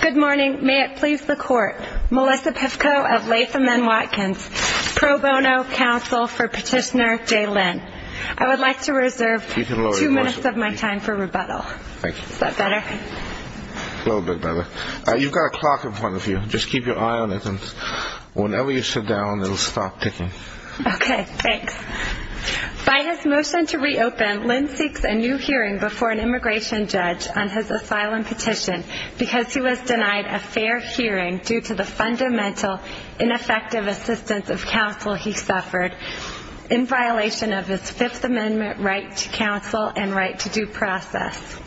Good morning. May it please the court. Melissa Pivko of Latham & Watkins. Pro bono counsel for petitioner Jay Lynn. I would like to reserve two minutes of my time for rebuttal. Is that better? A little bit better. You've got a clock in front of you. Just keep your eye on it and whenever you sit down it will stop ticking. Okay, thanks. By his motion to reopen, Lynn seeks a new hearing before an immigration judge on his asylum petition because he was denied a fair hearing due to the fundamental ineffective assistance of counsel he suffered in violation of his Fifth Amendment right to counsel and right to due process.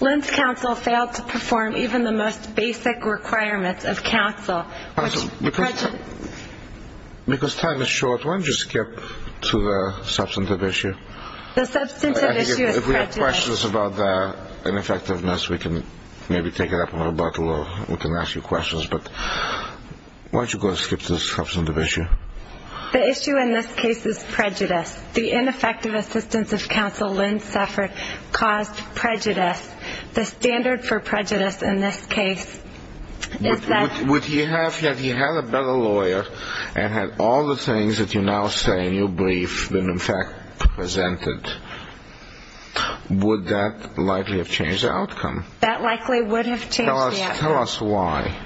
Lynn's counsel failed to perform even the most basic requirements of counsel. Counsel, because time is short, why don't you skip to the substantive issue? The substantive issue is prejudice. If we have questions about the ineffectiveness, we can maybe take it up on rebuttal or we can ask you questions, but why don't you go skip to the substantive issue? The issue in this case is prejudice. The ineffective assistance of counsel Lynn suffered caused prejudice. The standard for prejudice in this case is that... Would he have, if he had a better lawyer and had all the things that you now say in your brief been in fact presented, would that likely have changed the outcome? That likely would have changed the outcome. Tell us why.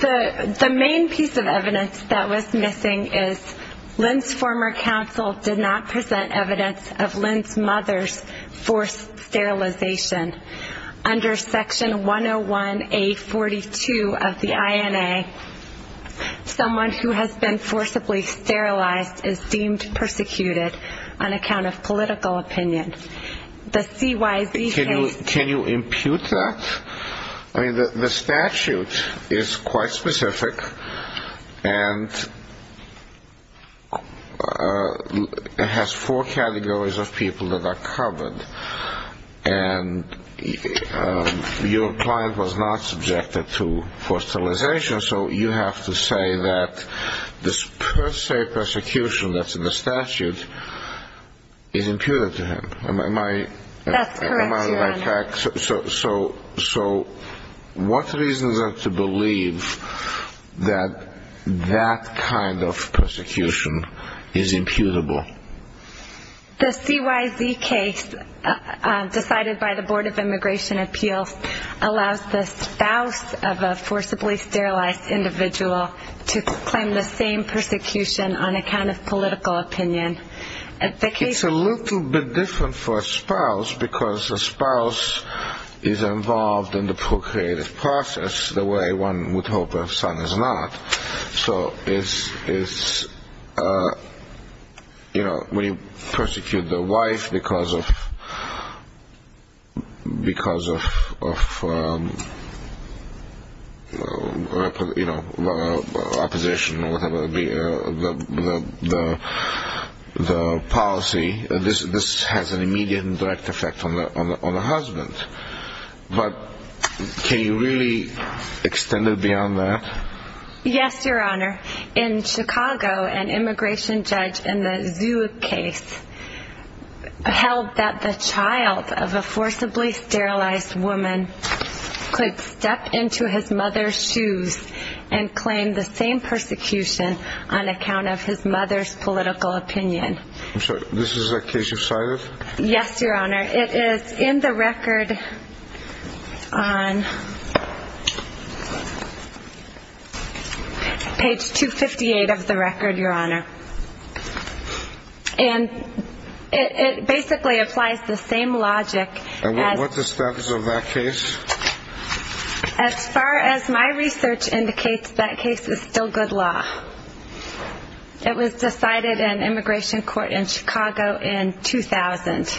The main piece of evidence that was missing is Lynn's former counsel did not present evidence of Lynn's mother's forced sterilization. Under section 101A42 of the INA, someone who has been forcibly sterilized is deemed persecuted on account of political opinion. Can you impute that? The statute is quite specific and has four categories of people that are covered. Your client was not subjected to forced sterilization, so you have to say that this per se persecution that's in the statute is imputed to him. That's correct, Your Honor. So what reasons are there to believe that that kind of persecution is imputable? The CYZ case decided by the Board of Immigration Appeals allows the spouse of a forcibly sterilized individual to claim the same persecution on account of political opinion. It's a little bit different for a spouse because a spouse is involved in the procreative process the way one would hope their son is not. So when you persecute the wife because of opposition or whatever the policy, this has an immediate and direct effect on the husband. But can you really extend it beyond that? Yes, Your Honor. In Chicago, an immigration judge in the Zoo case held that the child of a forcibly sterilized woman could step into his mother's shoes and claim the same persecution on account of his mother's political opinion. I'm sorry, this is a case of CYZ? Yes, Your Honor. It is in the record on page 258 of the record, Your Honor. And it basically applies the same logic as... And what's the status of that case? As far as my research indicates, that case is still good law. It was decided in immigration court in Chicago in 2000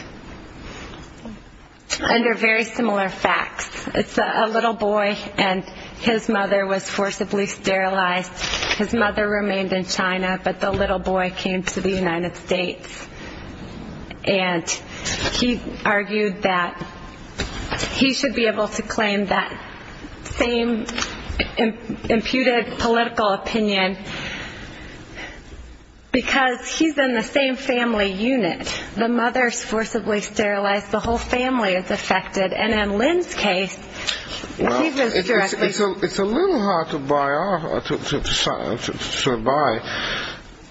under very similar facts. It's a little boy and his mother was forcibly sterilized. His mother remained in China, but the little boy came to the United States. And he argued that he should be able to claim that same imputed political opinion because he's in the same family unit. The mother is forcibly sterilized. The whole family is affected. And in Lynn's case, he was directly... It's a little hard to buy.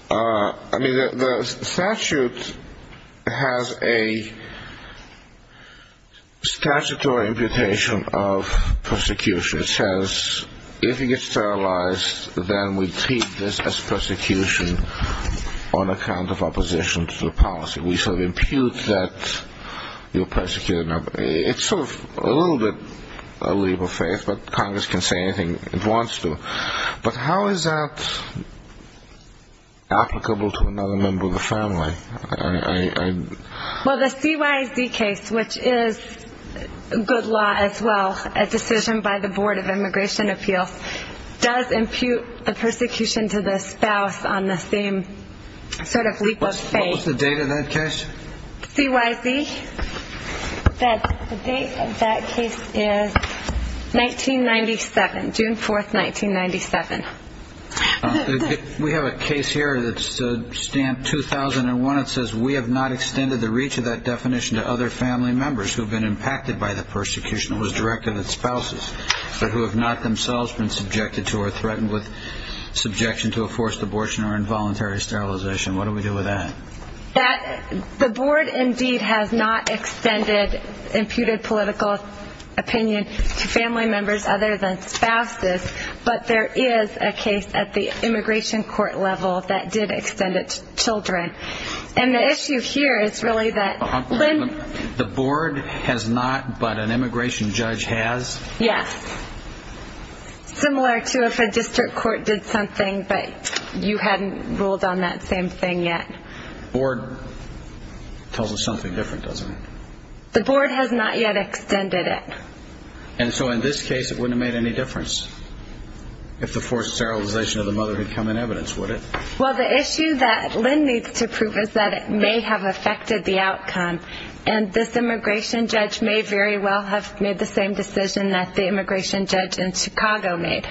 I mean, the statute has a statutory imputation of persecution. It says if he gets sterilized, then we treat this as persecution on account of opposition to the policy. We sort of impute that you're persecuting him. It's sort of a little bit a leap of faith, but Congress can say anything it wants to. But how is that applicable to another member of the family? Well, the CYZ case, which is good law as well, a decision by the Board of Immigration Appeals, does impute the persecution to the spouse on the same sort of leap of faith. What was the date of that case? CYZ, the date of that case is 1997, June 4th, 1997. We have a case here that's stamp 2001. It says we have not extended the reach of that definition to other family members who have been impacted by the persecution. It was directed at spouses who have not themselves been subjected to or threatened with subjection to a forced abortion or involuntary sterilization. What do we do with that? The board indeed has not extended imputed political opinion to family members other than spouses, but there is a case at the immigration court level that did extend it to children. And the issue here is really that when... The board has not, but an immigration judge has? Yes. Similar to if a district court did something, but you hadn't ruled on that same thing yet. The board tells us something different, doesn't it? The board has not yet extended it. And so in this case, it wouldn't have made any difference if the forced sterilization of the mother had come in evidence, would it? Well, the issue that Lynn needs to prove is that it may have affected the outcome, and this immigration judge may very well have made the same decision that the immigration judge in Chicago made.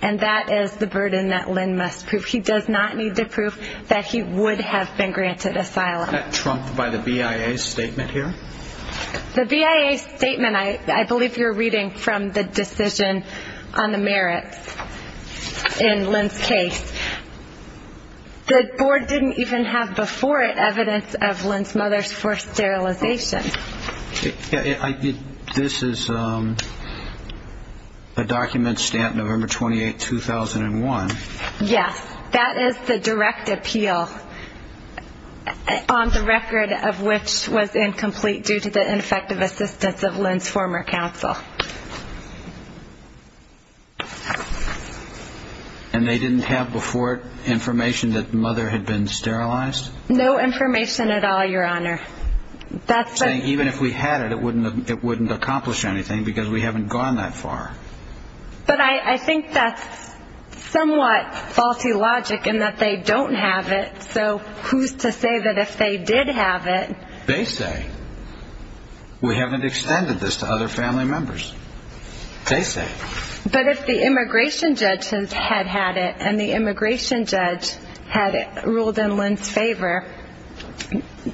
And that is the burden that Lynn must prove. He does not need to prove that he would have been granted asylum. Is that trumped by the BIA statement here? The BIA statement, I believe you're reading from the decision on the merits in Lynn's case. The board didn't even have before it evidence of Lynn's mother's forced sterilization. This is a document stamped November 28, 2001. Yes. That is the direct appeal on the record of which was incomplete due to the ineffective assistance of Lynn's former counsel. And they didn't have before it information that the mother had been sterilized? No information at all, Your Honor. Saying even if we had it, it wouldn't accomplish anything because we haven't gone that far. But I think that's somewhat faulty logic in that they don't have it, so who's to say that if they did have it... They say we haven't extended this to other family members. They say. But if the immigration judge had had it and the immigration judge had ruled in Lynn's favor,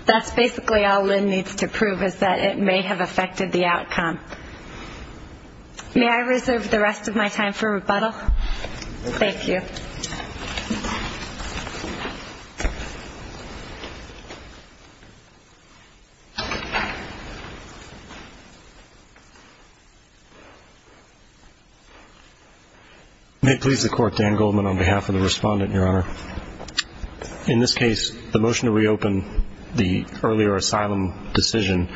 that's basically all Lynn needs to prove is that it may have affected the outcome. May I reserve the rest of my time for rebuttal? Thank you. May it please the Court, Dan Goldman on behalf of the Respondent, Your Honor. In this case, the motion to reopen the earlier asylum decision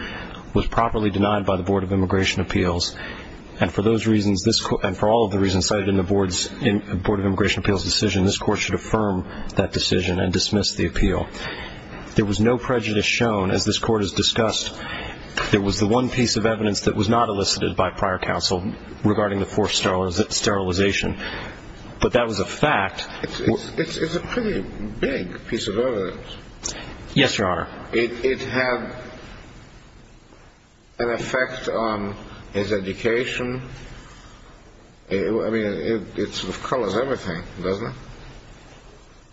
was properly denied by the Board of Immigration Appeals, and for all of the reasons cited in the Board of Immigration Appeals decision, this Court should affirm that decision and dismiss the appeal. There was the one piece of evidence that was not elicited by prior counsel regarding the forced sterilization, but that was a fact. It's a pretty big piece of evidence. Yes, Your Honor. It had an effect on his education. I mean, it sort of covers everything, doesn't it?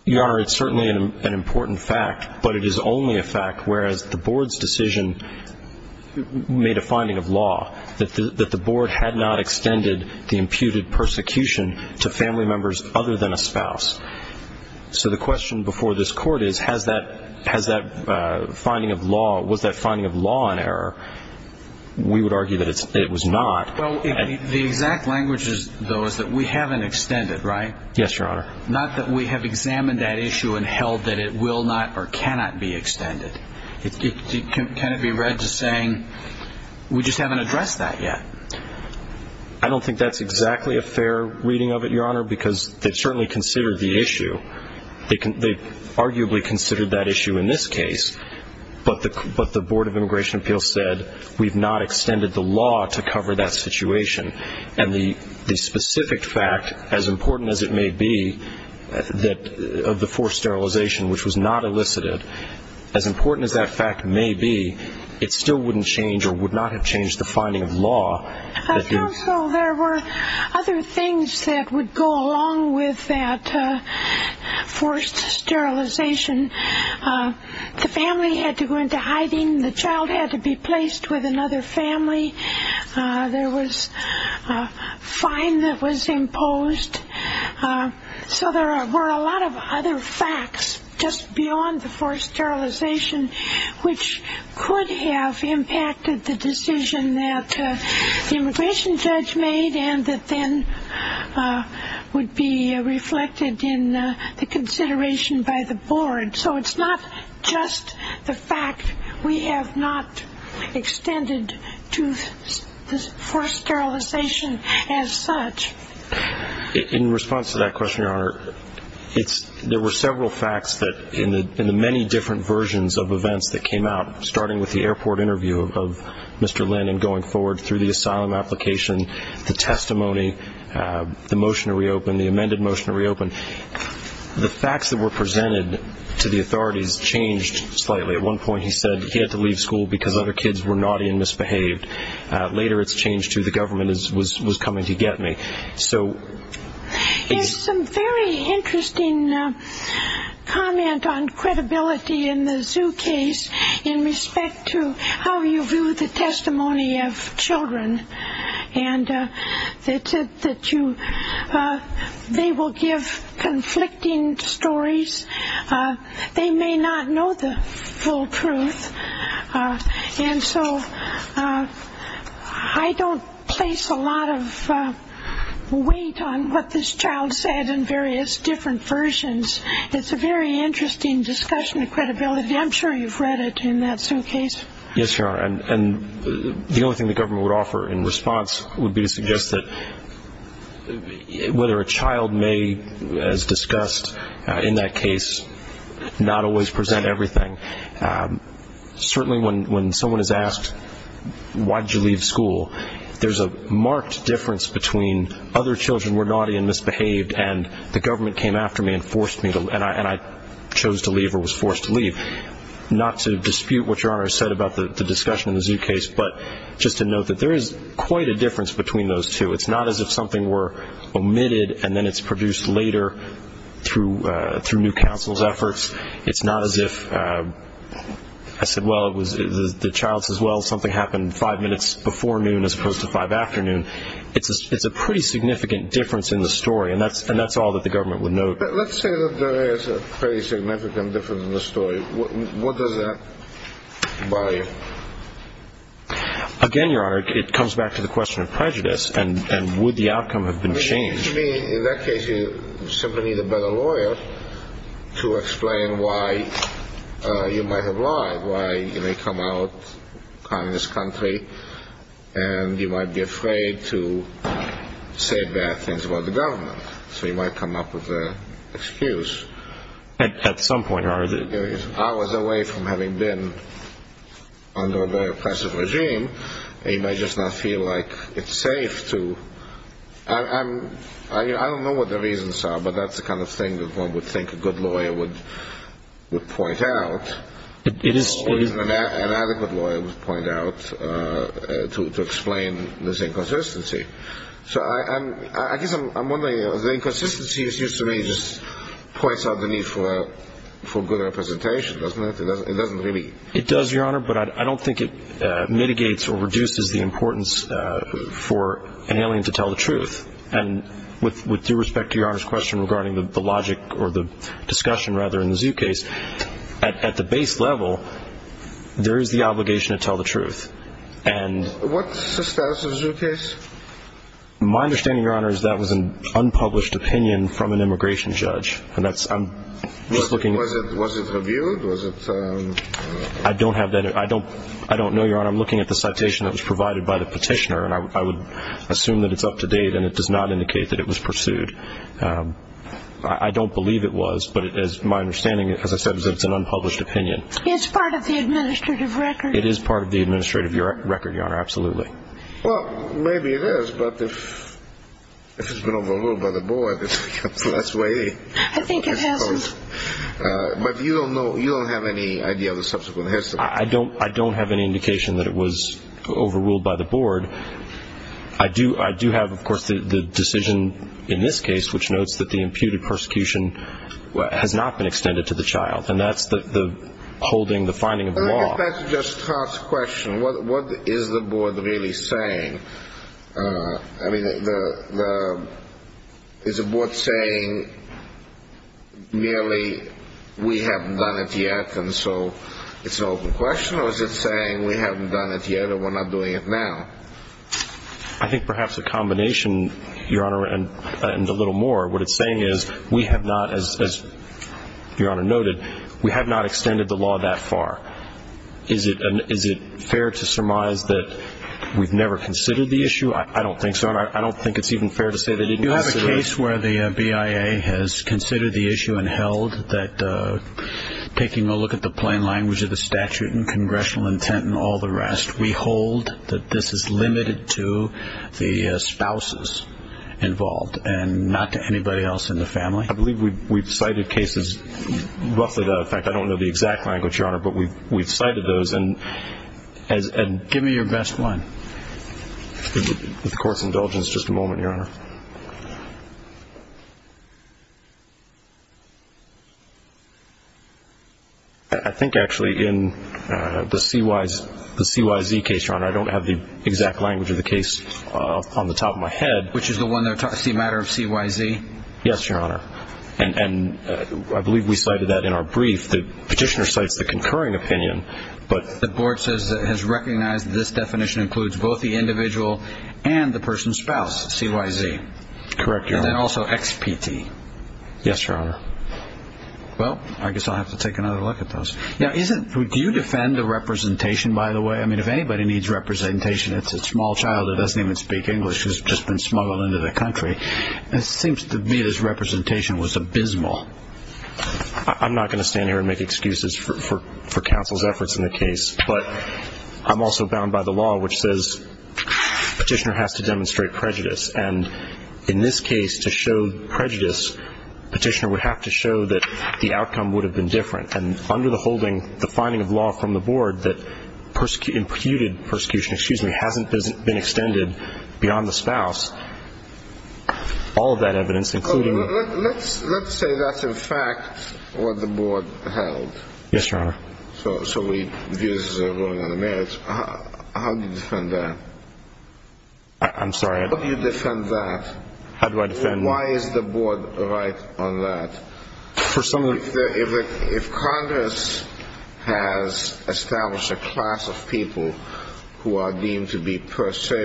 Your Honor, it's certainly an important fact, but it is only a fact whereas the Board's decision made a finding of law, that the Board had not extended the imputed persecution to family members other than a spouse. So the question before this Court is, was that finding of law an error? We would argue that it was not. The exact language, though, is that we haven't extended, right? Yes, Your Honor. Not that we have examined that issue and held that it will not or cannot be extended. Can it be read as saying we just haven't addressed that yet? I don't think that's exactly a fair reading of it, Your Honor, because they've certainly considered the issue. They've arguably considered that issue in this case, but the Board of Immigration Appeals said we've not extended the law to cover that situation. And the specific fact, as important as it may be, of the forced sterilization, which was not elicited, as important as that fact may be, it still wouldn't change or would not have changed the finding of law. I found, though, there were other things that would go along with that forced sterilization. The family had to go into hiding. The child had to be placed with another family. There was a fine that was imposed. So there were a lot of other facts just beyond the forced sterilization which could have impacted the decision that the immigration judge made and that then would be reflected in the consideration by the board. So it's not just the fact we have not extended to forced sterilization as such. In response to that question, Your Honor, there were several facts in the many different versions of events that came out, starting with the airport interview of Mr. Linden going forward through the asylum application, the testimony, the motion to reopen, the amended motion to reopen. The facts that were presented to the authorities changed slightly. At one point he said he had to leave school because other kids were naughty and misbehaved. Later it's changed to the government was coming to get me. There's some very interesting comment on credibility in the Zoo case in respect to how you view the testimony of children and that they will give conflicting stories. They may not know the full truth. And so I don't place a lot of weight on what this child said in various different versions. It's a very interesting discussion of credibility. I'm sure you've read it in that Zoo case. Yes, Your Honor. And the only thing the government would offer in response would be to suggest that whether a child may, as discussed in that case, not always present everything. Certainly when someone is asked, why did you leave school, there's a marked difference between other children were naughty and misbehaved and the government came after me and forced me, and I chose to leave or was forced to leave, not to dispute what Your Honor said about the discussion in the Zoo case, but just to note that there is quite a difference between those two. It's not as if something were omitted and then it's produced later through new counsel's efforts. It's not as if I said, well, the child says, well, something happened five minutes before noon as opposed to five afternoon. It's a pretty significant difference in the story, and that's all that the government would note. But let's say that there is a pretty significant difference in the story. What does that buy you? Again, Your Honor, it comes back to the question of prejudice, and would the outcome have been changed? To me, in that case, you simply need a better lawyer to explain why you might have lied, why you may come out in this country and you might be afraid to say bad things about the government. So you might come up with an excuse. At some point, Your Honor. I was away from having been under a very oppressive regime, and you might just not feel like it's safe to. I don't know what the reasons are, but that's the kind of thing that one would think a good lawyer would point out. An adequate lawyer would point out to explain this inconsistency. So I guess I'm wondering, the inconsistency seems to me just points out the need for good representation, doesn't it? It doesn't really. It does, Your Honor, but I don't think it mitigates or reduces the importance for an alien to tell the truth. And with due respect to Your Honor's question regarding the logic or the discussion, rather, in the Zoo case, at the base level, there is the obligation to tell the truth. What's the status of the Zoo case? My understanding, Your Honor, is that was an unpublished opinion from an immigration judge. Was it reviewed? I don't know, Your Honor. I'm looking at the citation that was provided by the petitioner, and I would assume that it's up to date, and it does not indicate that it was pursued. I don't believe it was, but my understanding, as I said, is that it's an unpublished opinion. It's part of the administrative record. It is part of the administrative record, Your Honor, absolutely. Well, maybe it is, but if it's been overruled by the board, that's the way it goes. I think it hasn't. But you don't know, you don't have any idea of the subsequent history. I don't have any indication that it was overruled by the board. I do have, of course, the decision in this case which notes that the imputed persecution has not been extended to the child, and that's the holding, the finding of the law. If that just starts the question, what is the board really saying? I mean, is the board saying merely we haven't done it yet, and so it's an open question, or is it saying we haven't done it yet or we're not doing it now? I think perhaps a combination, Your Honor, and a little more. What it's saying is we have not, as Your Honor noted, we have not extended the law that far. Is it fair to surmise that we've never considered the issue? I don't think so, and I don't think it's even fair to say they didn't consider it. You have a case where the BIA has considered the issue and held that taking a look at the plain language of the statute and congressional intent and all the rest, that this is limited to the spouses involved and not to anybody else in the family? I believe we've cited cases roughly to that effect. I don't know the exact language, Your Honor, but we've cited those. Give me your best one. With the Court's indulgence, just a moment, Your Honor. I think actually in the CYZ case, Your Honor, I don't have the exact language of the case on the top of my head. Which is the one that's a matter of CYZ? Yes, Your Honor, and I believe we cited that in our brief. The petitioner cites the concurring opinion, but the board says it has recognized that this definition includes both the individual and the person's spouse, CYZ. Correct, Your Honor. And then also XPT. Yes, Your Honor. Well, I guess I'll have to take another look at those. Now, do you defend the representation, by the way? I mean, if anybody needs representation, it's a small child that doesn't even speak English who's just been smuggled into the country. It seems to me this representation was abysmal. I'm not going to stand here and make excuses for counsel's efforts in the case, but I'm also bound by the law, which says petitioner has to demonstrate prejudice. And in this case, to show prejudice, petitioner would have to show that the outcome would have been different. And under the holding, the finding of law from the board that imputed persecution, excuse me, hasn't been extended beyond the spouse, all of that evidence, including the board. Let's say that's, in fact, what the board held. Yes, Your Honor. So we view this as a ruling on the merits. How do you defend that? I'm sorry? How do you defend that? How do I defend that? Why is the board right on that? For some reason. If Congress has established a class of people who are deemed to be, per se,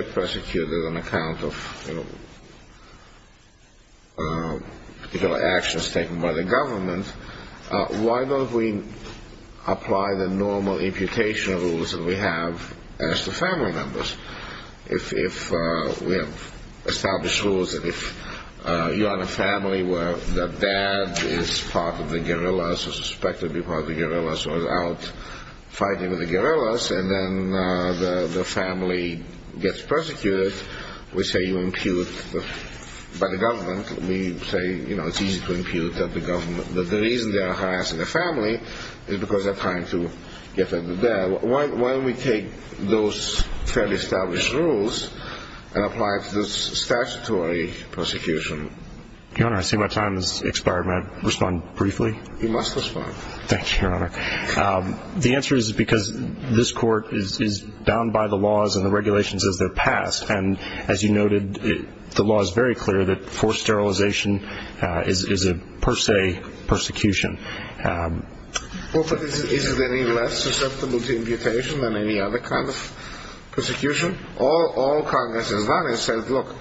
apply the normal imputation rules that we have as the family members. If we have established rules that if you are in a family where the dad is part of the guerrillas or suspected to be part of the guerrillas or is out fighting with the guerrillas, and then the family gets persecuted, we say you impute. By the government, we say, you know, it's easy to impute that the government is because they're trying to get at the dad. Why don't we take those fairly established rules and apply it to the statutory persecution? Your Honor, I see my time has expired. May I respond briefly? You must respond. Thank you, Your Honor. The answer is because this court is bound by the laws and the regulations as they're passed. And as you noted, the law is very clear that forced sterilization is a, per se, persecution. Is there any less susceptible to imputation than any other kind of persecution? All Congress has done is said, look,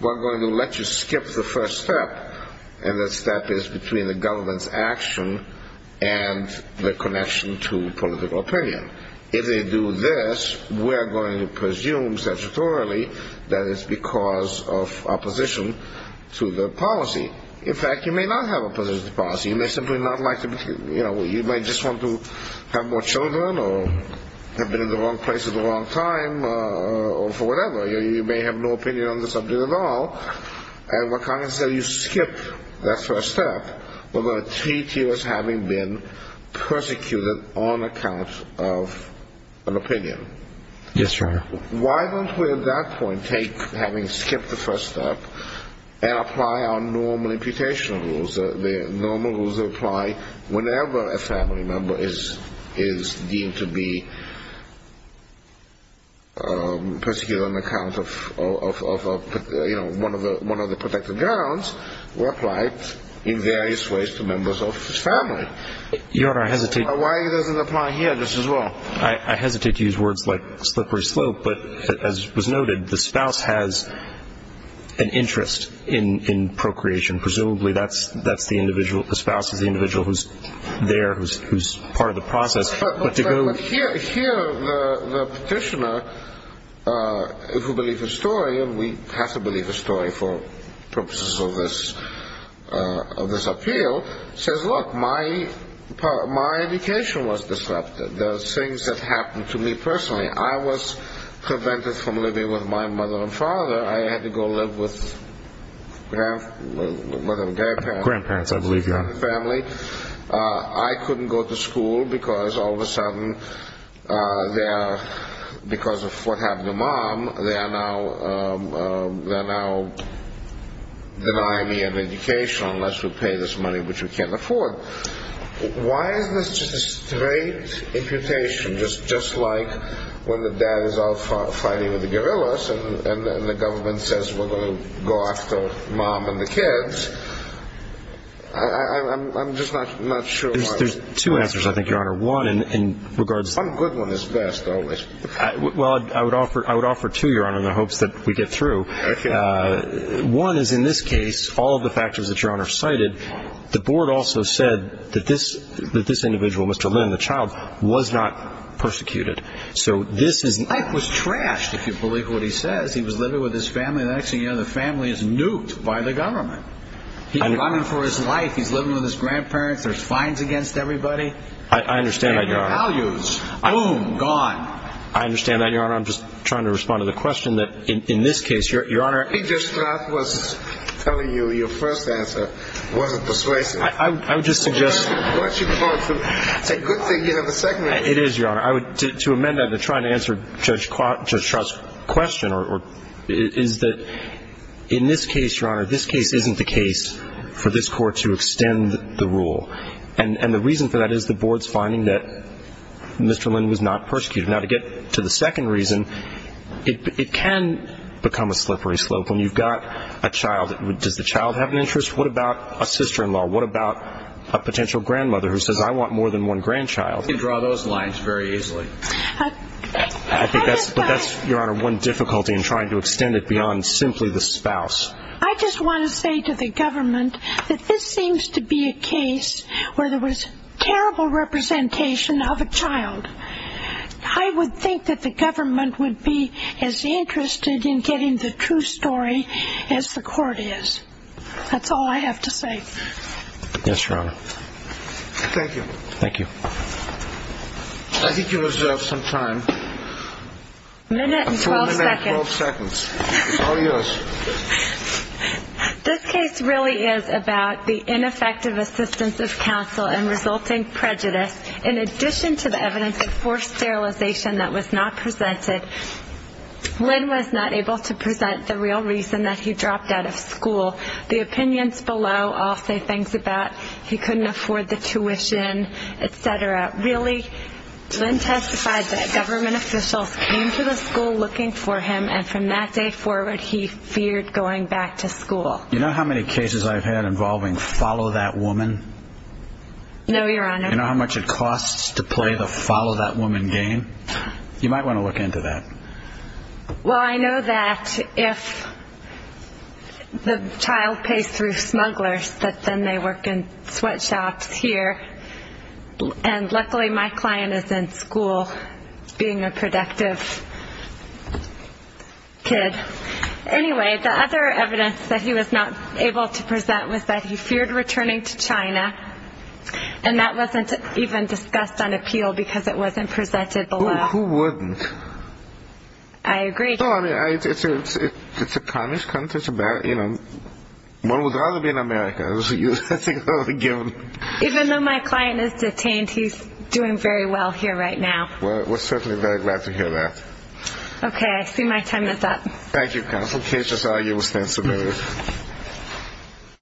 we're going to let you skip the first step, and that step is between the government's action and the connection to political opinion. If they do this, we're going to presume statutorily that it's because of opposition to the policy. In fact, you may not have opposition to policy. You may simply not like to be, you know, you might just want to have more children or have been in the wrong place at the wrong time or for whatever. You may have no opinion on the subject at all. And what Congress said, you skip that first step, but there are three tiers having been persecuted on account of an opinion. Yes, Your Honor. Why don't we at that point take having skipped the first step and apply our normal imputation rules, the normal rules that apply whenever a family member is deemed to be persecuted on account of, you know, one of the protected grounds were applied in various ways to members of his family. Your Honor, I hesitate. Why doesn't it apply here just as well? I hesitate to use words like slippery slope, but as was noted, the spouse has an interest in procreation. Presumably that's the individual, the spouse is the individual who's there, who's part of the process. But here the petitioner, who believes the story, and we have to believe the story for purposes of this appeal, says, look, my education was disrupted. The things that happened to me personally, I was prevented from living with my mother and father. I had to go live with grandparents. I believe you are. All of a sudden, because of what happened to Mom, they are now denying me an education unless we pay this money, which we can't afford. Why is this just a straight imputation, just like when the dad is out fighting with the guerrillas and the government says we're going to go after Mom and the kids? I'm just not sure why. There's two answers, I think, Your Honor. One good one is best, always. Well, I would offer two, Your Honor, in the hopes that we get through. One is, in this case, all of the factors that Your Honor cited, the board also said that this individual, Mr. Lin, the child, was not persecuted. So this is life was trashed, if you believe what he says. He was living with his family, and actually, you know, the family is nuked by the government. He's running for his life. He's living with his grandparents. There's fines against everybody. I understand that, Your Honor. And their values, boom, gone. I understand that, Your Honor. I'm just trying to respond to the question that, in this case, Your Honor. I think Judge Stratt was telling you your first answer wasn't persuasive. I would just suggest. Once you go through, it's a good thing you have a second answer. It is, Your Honor. I would, to amend that, to try and answer Judge Stratt's question, is that in this case, Your Honor, this case isn't the case for this Court to extend the rule. And the reason for that is the Board's finding that Mr. Lin was not persecuted. Now, to get to the second reason, it can become a slippery slope. When you've got a child, does the child have an interest? What about a sister-in-law? What about a potential grandmother who says, I want more than one grandchild? You can draw those lines very easily. I think that's, Your Honor, one difficulty in trying to extend it beyond simply the spouse. I just want to say to the government that this seems to be a case where there was terrible representation of a child. I would think that the government would be as interested in getting the true story as the Court is. That's all I have to say. Yes, Your Honor. Thank you. Thank you. I think you reserve some time. A minute and 12 seconds. It's all yours. This case really is about the ineffective assistance of counsel and resulting prejudice. In addition to the evidence of forced sterilization that was not presented, Lin was not able to present the real reason that he dropped out of school. The opinions below all say things about he couldn't afford the tuition, et cetera. Really, Lin testified that government officials came to the school looking for him, and from that day forward, he feared going back to school. You know how many cases I've had involving follow that woman? No, Your Honor. You know how much it costs to play the follow that woman game? You might want to look into that. Well, I know that if the child pays through smugglers, that then they work in sweatshops here, and luckily my client is in school being a productive kid. Anyway, the other evidence that he was not able to present was that he feared returning to China, and that wasn't even discussed on appeal because it wasn't presented below. Who wouldn't? I agree. It's a communist country. One would rather be in America. Even though my client is detained, he's doing very well here right now. Well, we're certainly very glad to hear that. Okay, I see my time is up. Thank you, counsel. Case is all yours. Thank you.